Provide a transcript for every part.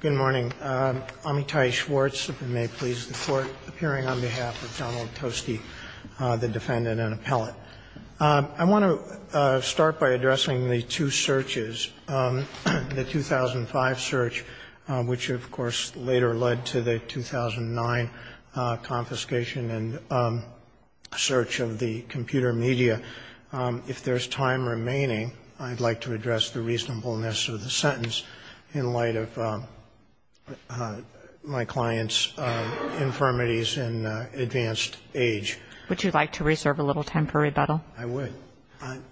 Good morning. Amitai Schwartz, if it may please the Court, appearing on behalf of Donald Tosti, the defendant and appellate. I want to start by addressing the two searches, the 2005 search, which, of course, later led to the 2009 confiscation and search of the computer media. If there's time remaining, I'd like to address the reasonableness of the sentence in light of my client's infirmities and advanced age. Would you like to reserve a little time for rebuttal? I would.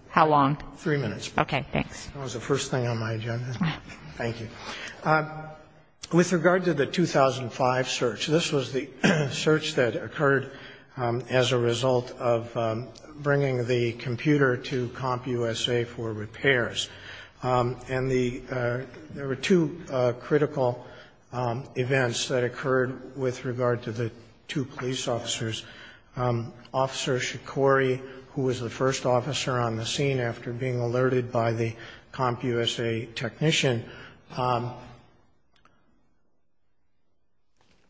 How long? Three minutes. Okay, thanks. That was the first thing on my agenda. Thank you. With regard to the 2005 search, this was the search that occurred as a result of bringing the computer to CompUSA for repairs. And there were two critical events that occurred with regard to the two police officers. Officer Shikori, who was the first officer on the scene after being alerted by the CompUSA technician,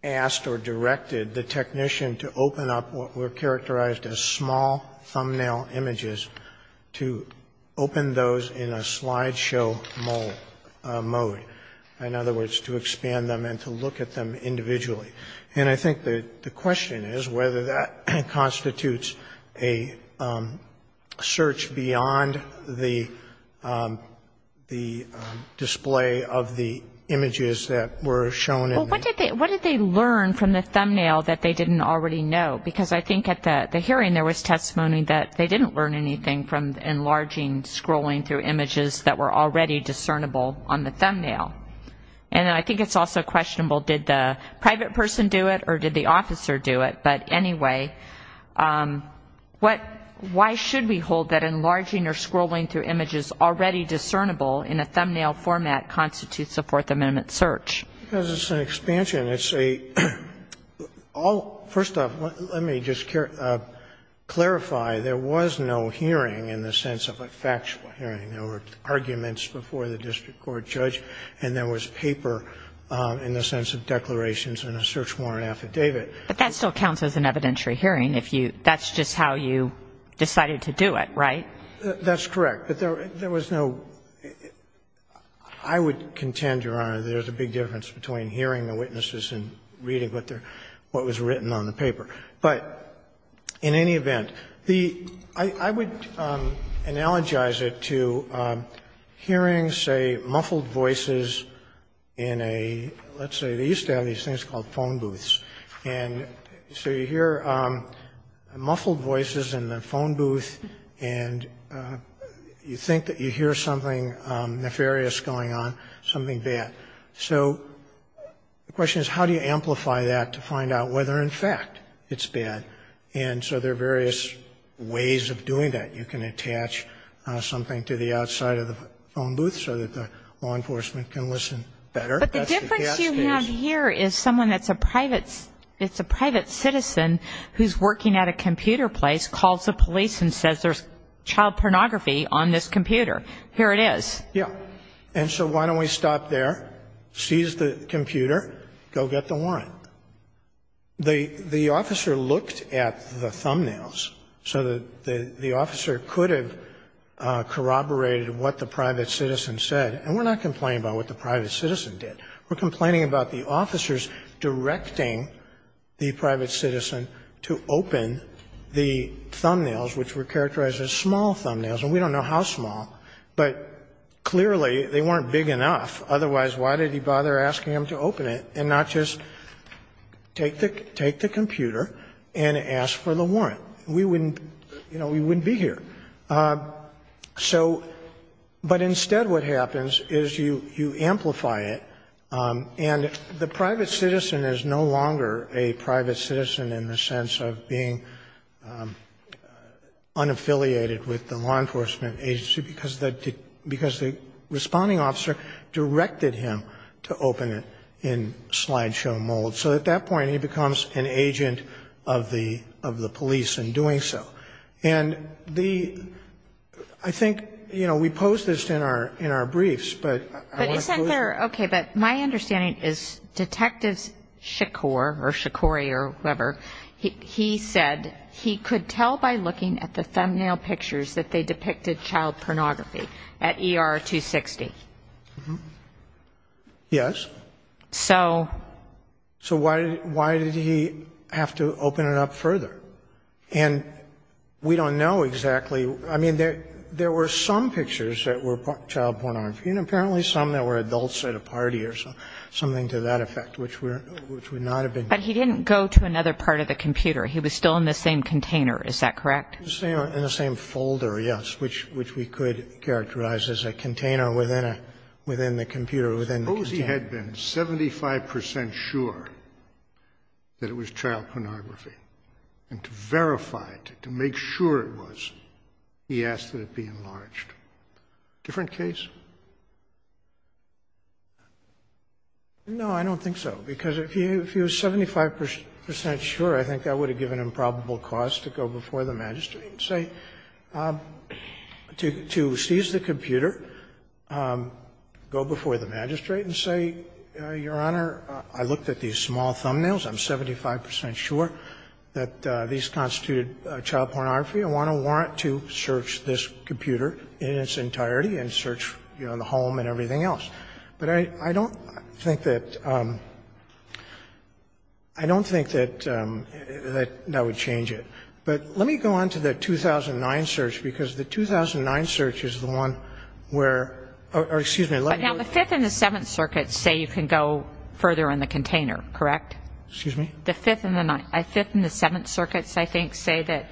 asked or directed the technician to open up what were characterized as small thumbnail images to open those in a slideshow mode. In other words, to expand them and to look at them individually. And I think the question is whether that constitutes a search beyond the display of the images that were shown in them. Well, what did they learn from the thumbnail that they didn't already know? Because I think at the hearing there was testimony that they didn't learn anything from enlarging, scrolling through images that were already discernible on the thumbnail. And I think it's also questionable, did the private person do it or did the officer do it? But anyway, why should we hold that enlarging or scrolling through images already discernible in a thumbnail format constitutes a Fourth Amendment search? Because it's an expansion. It's a all, first off, let me just clarify, there was no hearing in the sense of a factual hearing. There were arguments before the district court judge, and there was paper in the sense of declarations and a search warrant affidavit. But that still counts as an evidentiary hearing if you, that's just how you decided to do it, right? That's correct. But there was no, I would contend, Your Honor, there's a big difference between hearing the witnesses and reading what was written on the paper. But in any event, I would analogize it to hearing, say, muffled voices in a, let's say, they used to have these things called phone booths. And so you hear muffled voices in the phone booth, and you think that you hear something nefarious going on, something bad. So the question is, how do you amplify that to find out whether, in fact, it's bad? And so there are various ways of doing that. You can attach something to the outside of the phone booth so that the law enforcement can listen better. But the difference you have here is someone that's a private citizen who's working at a computer place calls the police and says there's child pornography on this computer. Here it is. Yeah. And so why don't we stop there, seize the computer, go get the warrant. The officer looked at the thumbnails so that the officer could have corroborated what the private citizen said. And we're not complaining about what the private citizen did. We're complaining about the officers directing the private citizen to open the thumbnails, which were characterized as small thumbnails. And we don't know how small. But clearly, they weren't big enough. Otherwise, why did he bother asking them to open it and not just take the computer and ask for the warrant? We wouldn't be here. So, but instead what happens is you amplify it. And the private citizen is no longer a private citizen in the sense of being unaffiliated with the law enforcement agency because the responding officer directed him to open it in slideshow mold. So at that point, he becomes an agent of the police in doing so. And the, I think, you know, we posed this in our briefs. But I want to go there. Okay. But my understanding is Detectives Shakur or Shakuri or whoever, he said he could tell by looking at the thumbnail pictures that they depicted child pornography at ER 260. Yes. So? So why did he have to open it up further? And we don't know exactly. I mean, there were some pictures that were child pornography and apparently some that were adults at a party or something to that effect, which would not have been. But he didn't go to another part of the computer. He was still in the same container. Is that correct? In the same folder, yes, which we could characterize as a container within the computer, within the container. Suppose he had been 75 percent sure that it was child pornography. And to verify it, to make sure it was, he asked that it be enlarged. Different case? No, I don't think so. Because if he was 75 percent sure, I think that would have given him probable cause to go before the magistrate and say, to seize the computer, go before the magistrate and say, Your Honor, I looked at these small thumbnails, I'm 75 percent sure that these constituted child pornography. I want to warrant to search this computer in its entirety and search, you know, the home and everything else. But I don't think that, I don't think that that would change it. But let me go on to the 2009 search, because the 2009 search is the one where, or excuse me, let me go to the 5th and the 7th circuits say you can go further in the container, correct? Excuse me? The 5th and the 9th, the 5th and the 7th circuits, I think, say that.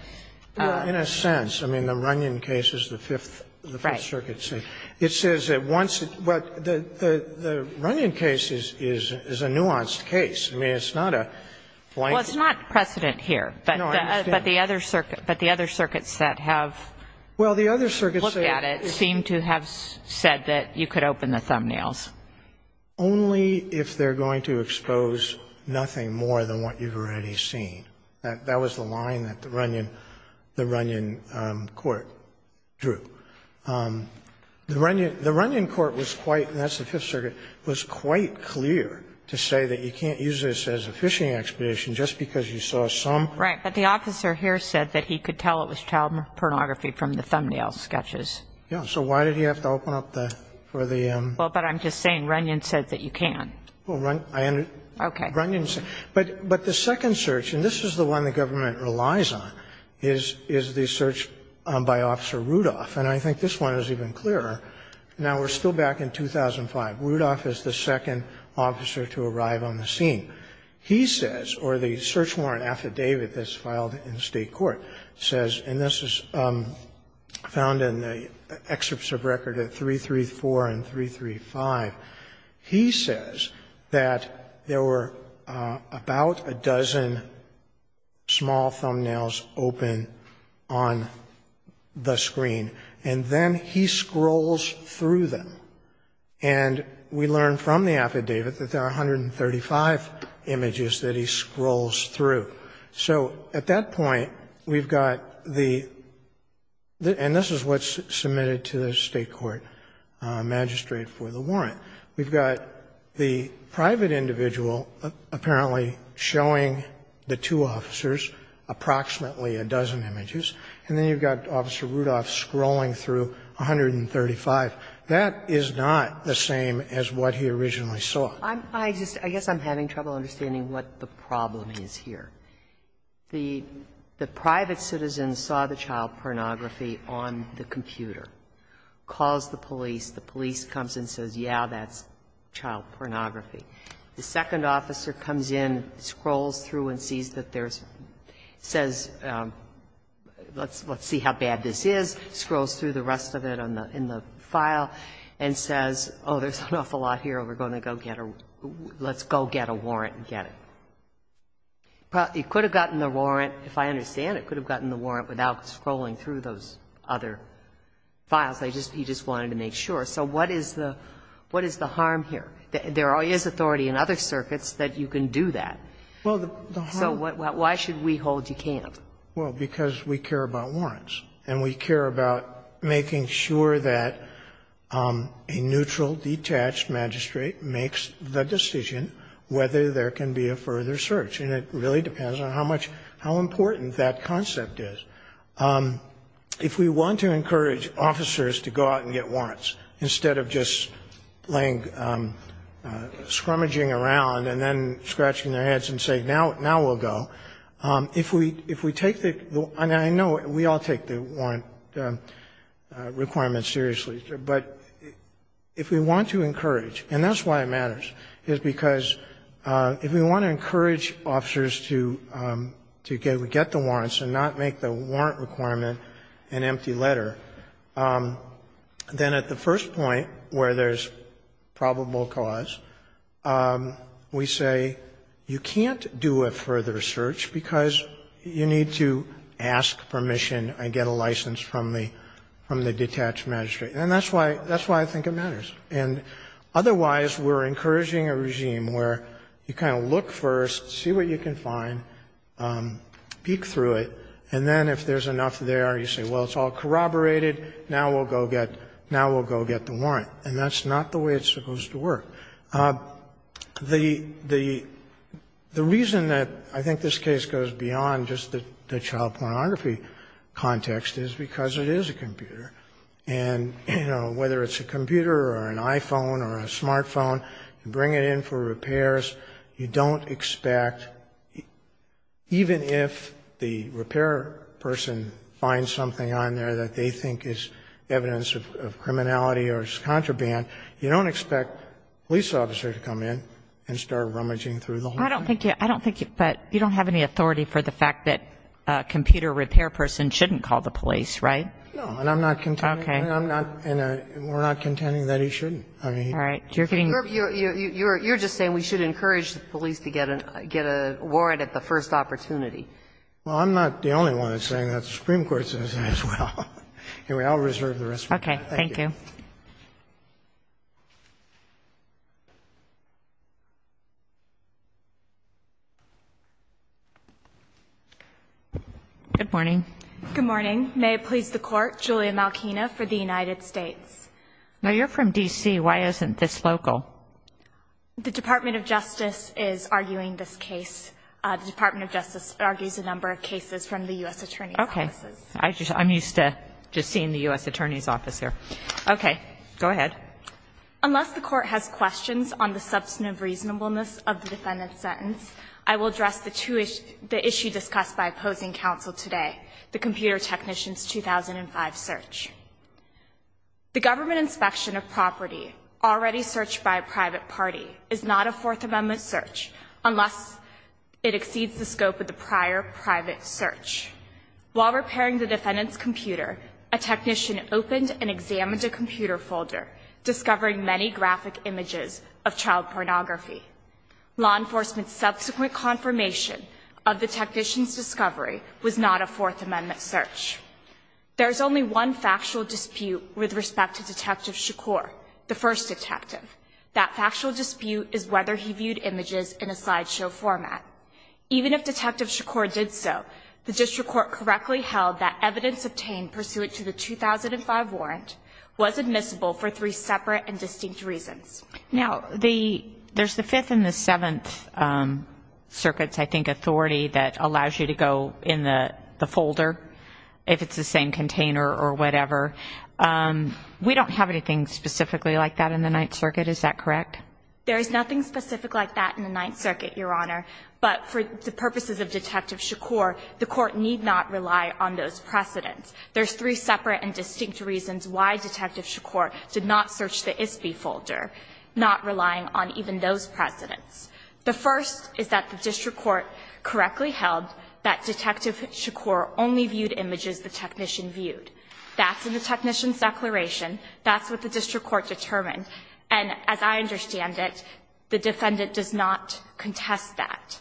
In a sense. I mean, the Runyon case is the 5th, the 5th circuit. It says that once, well, the Runyon case is a nuanced case. I mean, it's not a blank. Well, it's not precedent here, but the other circuits that have looked at it seem to have said that you could open the thumbnails. Only if they're going to expose nothing more than what you've already seen. That was the line that the Runyon court drew. The Runyon court was quite, and that's the 5th circuit, was quite clear to say that you can't use this as a fishing expedition just because you saw some. Right. But the officer here said that he could tell it was child pornography from the thumbnail sketches. Yeah. So why did he have to open up the, for the? Well, but I'm just saying Runyon said that you can. Well, Runyon, I understand. Okay. Runyon said. But the second search, and this is the one the government relies on, is the search by Officer Rudolph. And I think this one is even clearer. Now, we're still back in 2005. Rudolph is the second officer to arrive on the scene. He says, or the search warrant affidavit that's filed in State court says, and this is found in the excerpts of record at 334 and 335, he says that there were about a dozen small thumbnails open on the screen. And then he scrolls through them. And we learned from the affidavit that there are 135 images that he scrolls through. So at that point, we've got the, and this is what's submitted to the State court magistrate for the warrant. We've got the private individual apparently showing the two officers approximately a dozen images. And then you've got Officer Rudolph scrolling through 135. That is not the same as what he originally saw. I just, I guess I'm having trouble understanding what the problem is here. The private citizen saw the child pornography on the computer, calls the police. The police comes and says, yeah, that's child pornography. The second officer comes in, scrolls through and sees that there's, says, let's see how bad this is, scrolls through the rest of it in the file and says, oh, there's an awful lot here, we're going to go get a, let's go get a warrant and get it. He could have gotten the warrant, if I understand it, could have gotten the warrant without scrolling through those other files. He just wanted to make sure. So what is the harm here? There is authority in other circuits that you can do that. So why should we hold you can't? Well, because we care about warrants. And we care about making sure that a neutral, detached magistrate makes the decision whether there can be a further search. And it really depends on how much, how important that concept is. If we want to encourage officers to go out and get warrants instead of just laying scrummaging around and then scratching their heads and saying, now we'll go, if we take the, I know we all take the warrant requirement seriously, but if we want to encourage, and that's why it matters, is because if we want to encourage officers to get the warrants and not make the warrant requirement an empty letter, then at the first point where there's probable cause, we say you can't do a further search because you need to ask permission and get a license from the, from the detached magistrate. And that's why, that's why I think it matters. And otherwise, we're encouraging a regime where you kind of look first, see what you can find, peek through it, and then if there's enough there, you say, well, it's all right, we'll get the warrant. And that's not the way it's supposed to work. The, the, the reason that I think this case goes beyond just the child pornography context is because it is a computer. And, you know, whether it's a computer or an iPhone or a smartphone, you bring it in for repairs, you don't expect, even if the repair person finds something on there that they think is evidence of, of criminality or is contraband, you don't expect a police officer to come in and start rummaging through the whole thing. I don't think you, I don't think you, but you don't have any authority for the fact that a computer repair person shouldn't call the police, right? No. And I'm not contending. Okay. And I'm not, and we're not contending that he shouldn't. I mean, he. All right. You're getting. You're, you're, you're just saying we should encourage the police to get an, get a warrant Well, I'm not the only one that's saying that. The Supreme Court says that as well. Anyway, I'll reserve the rest. Okay. Thank you. Good morning. Good morning. May it please the court. Julia Malkina for the United States. No, you're from DC. Why isn't this local? The Department of Justice is arguing this case. The Department of Justice argues a number of cases from the U.S. Attorney's offices. I just, I'm used to just seeing the U.S. Attorney's office here. Okay. Go ahead. Unless the court has questions on the substantive reasonableness of the defendant's sentence, I will address the two issues, the issue discussed by opposing counsel today, the computer technician's 2005 search. The government inspection of property already searched by a private party is not a fourth amendment search unless it exceeds the scope of the prior private search. While repairing the defendant's computer, a technician opened and examined a computer folder, discovering many graphic images of child pornography. Law enforcement's subsequent confirmation of the technician's discovery was not a fourth amendment search. There's only one factual dispute with respect to Detective Shakur, the first detective. That factual dispute is whether he viewed images in a slideshow format. Even if Detective Shakur did so, the district court correctly held that evidence obtained pursuant to the 2005 warrant was admissible for three separate and distinct reasons. Now, the, there's the Fifth and the Seventh Circuits, I think, authority that allows you to go in the folder if it's the same container or whatever. We don't have anything specifically like that in the Ninth Circuit. Is that correct? There is nothing specific like that in the Ninth Circuit, Your Honor. But for the purposes of Detective Shakur, the court need not rely on those precedents. There's three separate and distinct reasons why Detective Shakur did not search the ISBI folder, not relying on even those precedents. The first is that the district court correctly held that Detective Shakur only viewed images the technician viewed. That's in the technician's declaration. That's what the district court determined. And as I understand it, the defendant does not contest that.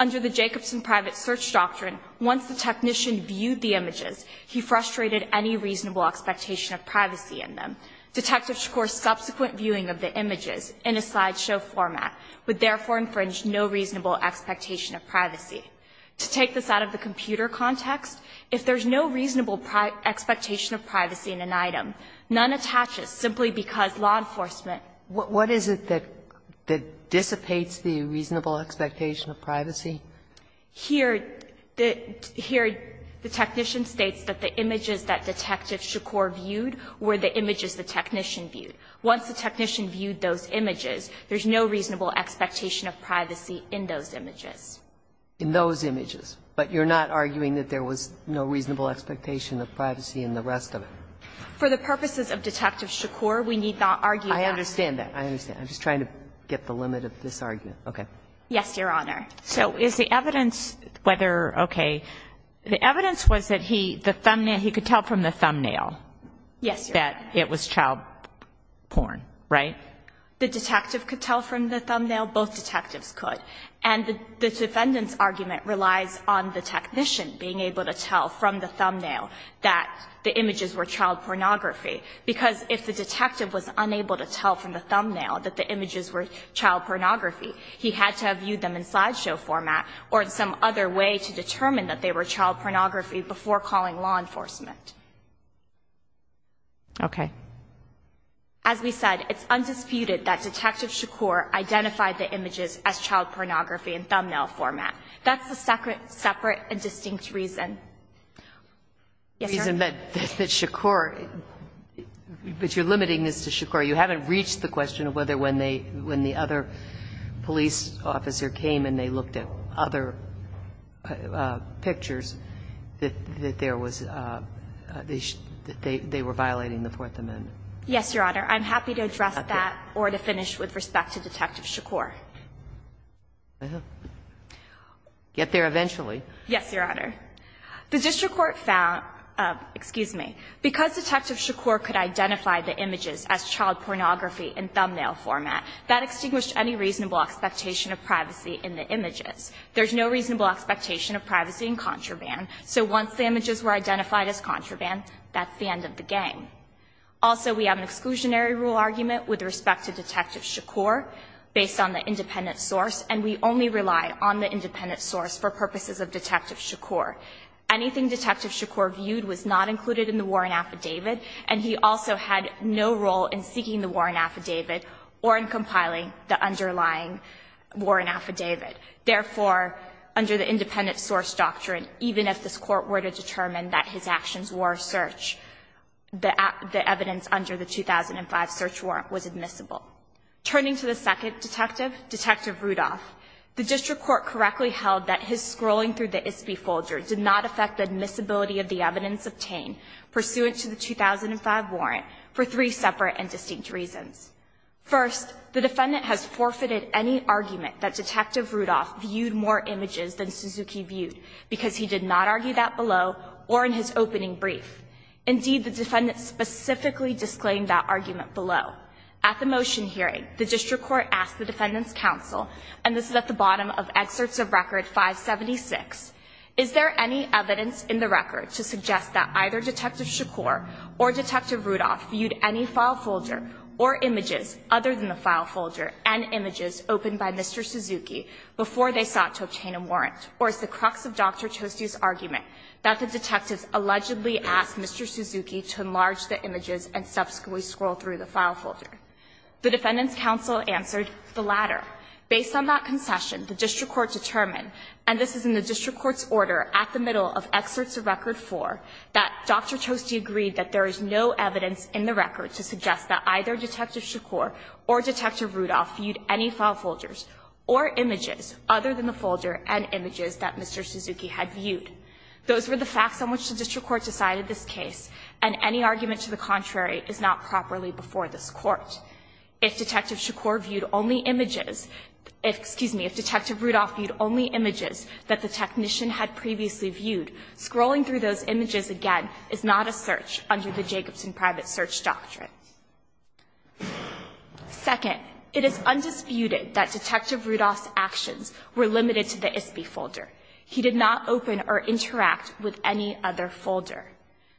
Under the Jacobson private search doctrine, once the technician viewed the images, he frustrated any reasonable expectation of privacy in them. Detective Shakur's subsequent viewing of the images in a slideshow format would therefore infringe no reasonable expectation of privacy. To take this out of the computer context, if there's no reasonable expectation of privacy in an item, none attaches simply because law enforcement. What is it that dissipates the reasonable expectation of privacy? Here, the technician states that the images that Detective Shakur viewed were the images the technician viewed. Once the technician viewed those images, there's no reasonable expectation of privacy in those images. In those images, but you're not arguing that there was no reasonable expectation of privacy in the rest of it? For the purposes of Detective Shakur, we need not argue that. I understand that. I understand. I'm just trying to get the limit of this argument. Okay. Yes, Your Honor. So is the evidence whether, okay, the evidence was that he, the thumbnail, he could tell from the thumbnail. Yes, Your Honor. That it was child porn, right? The detective could tell from the thumbnail. Both detectives could. And the defendant's argument relies on the technician being able to tell from the thumbnail that the images were child pornography. Because if the detective was unable to tell from the thumbnail that the images were child pornography, he had to have viewed them in slideshow format or in some other way to determine that they were child pornography before calling law enforcement. Okay. As we said, it's undisputed that Detective Shakur identified the images as child pornography in thumbnail format. That's the separate and distinct reason. Yes, Your Honor. And that Shakur, but you're limiting this to Shakur. You haven't reached the question of whether when they, when the other police officer came and they looked at other pictures that there was, that they were violating the Fourth Amendment. Yes, Your Honor. I'm happy to address that or to finish with respect to Detective Shakur. Get there eventually. Yes, Your Honor. The district court found, excuse me, because Detective Shakur could identify the images as child pornography in thumbnail format, that extinguished any reasonable expectation of privacy in the images. There's no reasonable expectation of privacy in contraband. So once the images were identified as contraband, that's the end of the game. Also, we have an exclusionary rule argument with respect to Detective Shakur based on the independent source, and we only rely on the independent source for purposes of Detective Shakur. Anything Detective Shakur viewed was not included in the warrant affidavit, and he also had no role in seeking the warrant affidavit or in compiling the underlying warrant affidavit. Therefore, under the independent source doctrine, even if this court were to determine that his actions were search, the evidence under the 2005 search warrant was admissible. Turning to the second detective, Detective Rudolph, the district court correctly held that his scrolling through the ISBI folder did not affect the admissibility of the evidence obtained pursuant to the 2005 warrant for three separate and distinct reasons. First, the defendant has forfeited any argument that Detective Rudolph viewed more images than Suzuki viewed because he did not argue that below or in his opening brief. Indeed, the defendant specifically disclaimed that argument below. At the motion hearing, the district court asked the defendant's counsel, and this is at the bottom of excerpts of record 576, is there any evidence in the record to suggest that either Detective Shakur or Detective Rudolph viewed any file folder or images other than the file folder and images opened by Mr. Suzuki before they sought to obtain a warrant, or is the crux of Dr. Toste's argument that the detectives allegedly asked Mr. Suzuki to enlarge the images and subsequently scroll through the file folder? The defendant's counsel answered the latter. Based on that concession, the district court determined, and this is in the district court's order at the middle of excerpts of record 4, that Dr. Toste agreed that there is no evidence in the record to suggest that either Detective Shakur or Detective Rudolph viewed any file folders or images other than the folder and images that Mr. Suzuki had viewed. Those were the facts on which the district court decided this case, and any argument to the contrary is not properly before this Court. If Detective Shakur viewed only images, excuse me, if Detective Rudolph viewed only images that the technician had previously viewed, scrolling through those images again is not a search under the Jacobson Private Search Doctrine. Second, it is undisputed that Detective Rudolph's actions were limited to the ISBI folder. He did not open or interact with any other folder.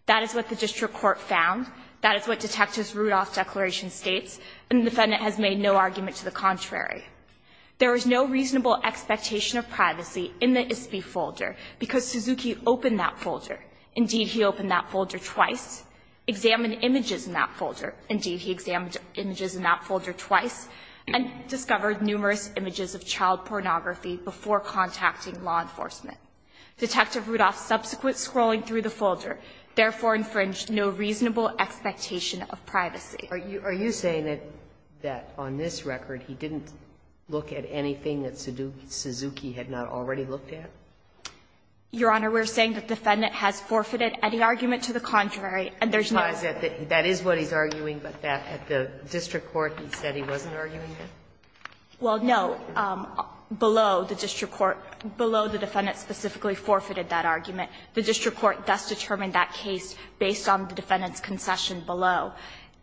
That is what the district court found. That is what Detective Rudolph's declaration states, and the defendant has made no argument to the contrary. There is no reasonable expectation of privacy in the ISBI folder because Suzuki opened that folder. Indeed, he opened that folder twice, examined images in that folder. Indeed, he examined images in that folder twice, and discovered numerous images of child pornography before contacting law enforcement. Detective Rudolph's subsequent scrolling through the folder therefore infringed no reasonable expectation of privacy. Are you saying that on this record he didn't look at anything that Suzuki had not already looked at? Your Honor, we're saying that the defendant has forfeited any argument to the contrary, and there's no. That is what he's arguing, but that at the district court he said he wasn't arguing it? Well, no. Below the district court, below the defendant specifically forfeited that argument. The district court thus determined that case based on the defendant's concession below,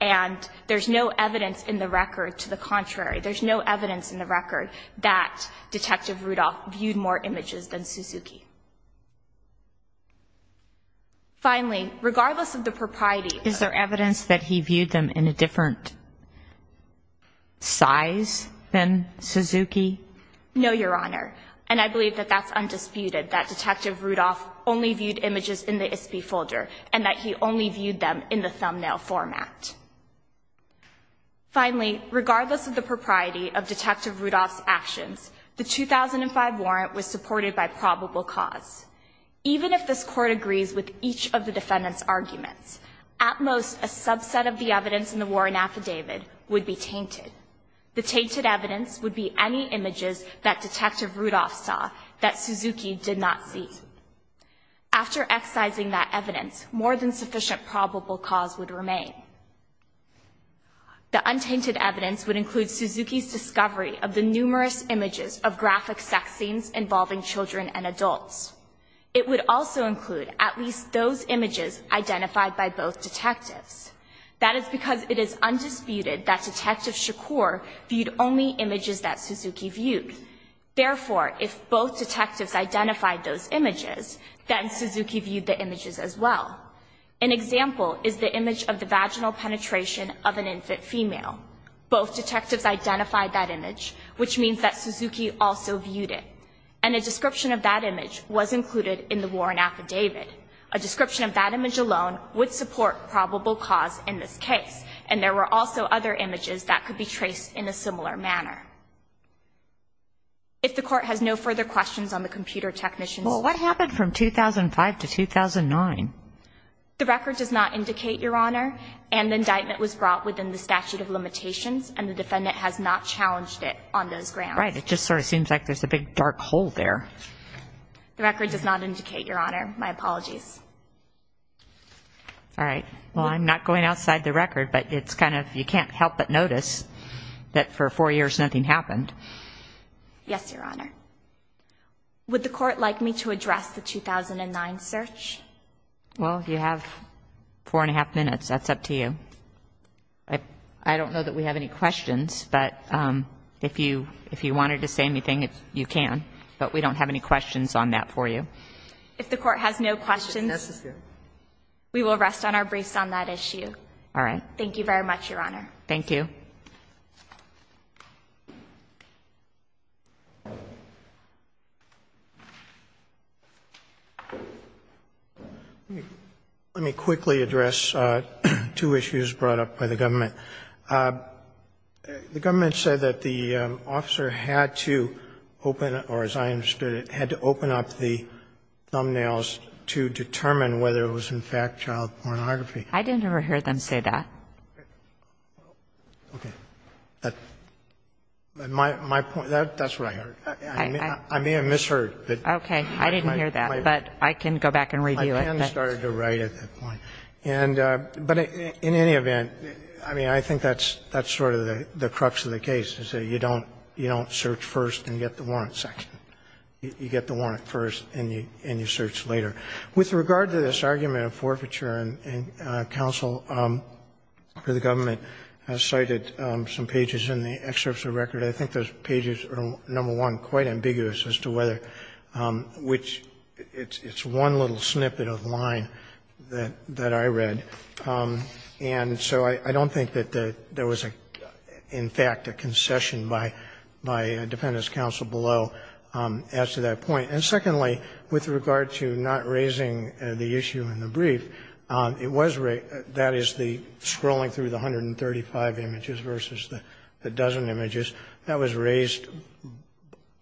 and there's no evidence in the record to the contrary. There's no evidence in the record that Detective Rudolph viewed more images than Suzuki. Finally, regardless of the propriety. Is there evidence that he viewed them in a different size than Suzuki? No, Your Honor, and I believe that that's undisputed. That Detective Rudolph only viewed images in the ISP folder and that he only viewed them in the thumbnail format. Finally, regardless of the propriety of Detective Rudolph's actions, the 2005 warrant was supported by probable cause. Even if this court agrees with each of the defendant's arguments, at most a subset of the evidence in the warrant affidavit would be tainted. The tainted evidence would be any images that Detective Rudolph saw that Suzuki did not see. After excising that evidence, more than sufficient probable cause would remain. The untainted evidence would include Suzuki's discovery of the numerous images of graphic sex scenes involving children and adults. It would also include at least those images identified by both detectives. That is because it is undisputed that Detective Shakur viewed only images that Suzuki viewed. Therefore, if both detectives identified those images, then Suzuki viewed the images as well. An example is the image of the vaginal penetration of an infant female. Both detectives identified that image, which means that Suzuki also viewed it. And a description of that image was included in the warrant affidavit. A description of that image alone would support probable cause in this case. And there were also other images that could be traced in a similar manner. If the Court has no further questions on the computer technician's. Well, what happened from 2005 to 2009? The record does not indicate, Your Honor, an indictment was brought within the statute of limitations, and the defendant has not challenged it on those grounds. Right. It just sort of seems like there's a big dark hole there. The record does not indicate, Your Honor. My apologies. All right. Well, I'm not going outside the record, but it's kind of you can't help but notice that for four years, nothing happened. Yes, Your Honor. Would the Court like me to address the 2009 search? Well, you have four and a half minutes. That's up to you. I don't know that we have any questions, but if you if you wanted to say anything, you can, but we don't have any questions on that for you. If the Court has no questions, we will rest on our briefs on that issue. All right. Thank you very much, Your Honor. Thank you. Let me quickly address two issues brought up by the government. The government said that the officer had to open, or as I understood it, had to open up the thumbnails to determine whether it was, in fact, child pornography. I didn't ever hear them say that. Okay. My point, that's what I heard. I may have misheard. Okay. I didn't hear that, but I can go back and review it. My pen started to write at that point. And but in any event, I mean, I think that's that's sort of the crux of the case is that you don't you don't search first and get the warrant second. You get the warrant first and you and you search later. With regard to this argument of forfeiture, and counsel for the government has cited some pages in the excerpts of record. I think those pages are, number one, quite ambiguous as to whether, which it's one little snippet of line that that I read. And so I don't think that there was, in fact, a concession by by a defendant's will as to that point. And secondly, with regard to not raising the issue in the brief, it was that is the scrolling through the 135 images versus the dozen images that was raised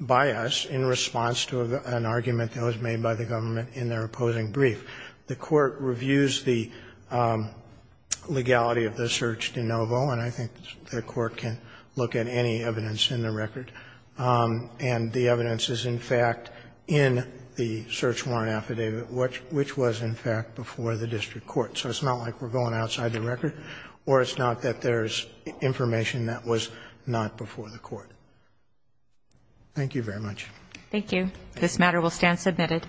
by us in response to an argument that was made by the government in their opposing brief. The court reviews the legality of the search de novo, and I think the court can look at any evidence in the record. And the evidence is, in fact, in the search warrant affidavit, which was, in fact, before the district court. So it's not like we're going outside the record, or it's not that there's information that was not before the court. Thank you very much. Thank you. This matter will stand submitted.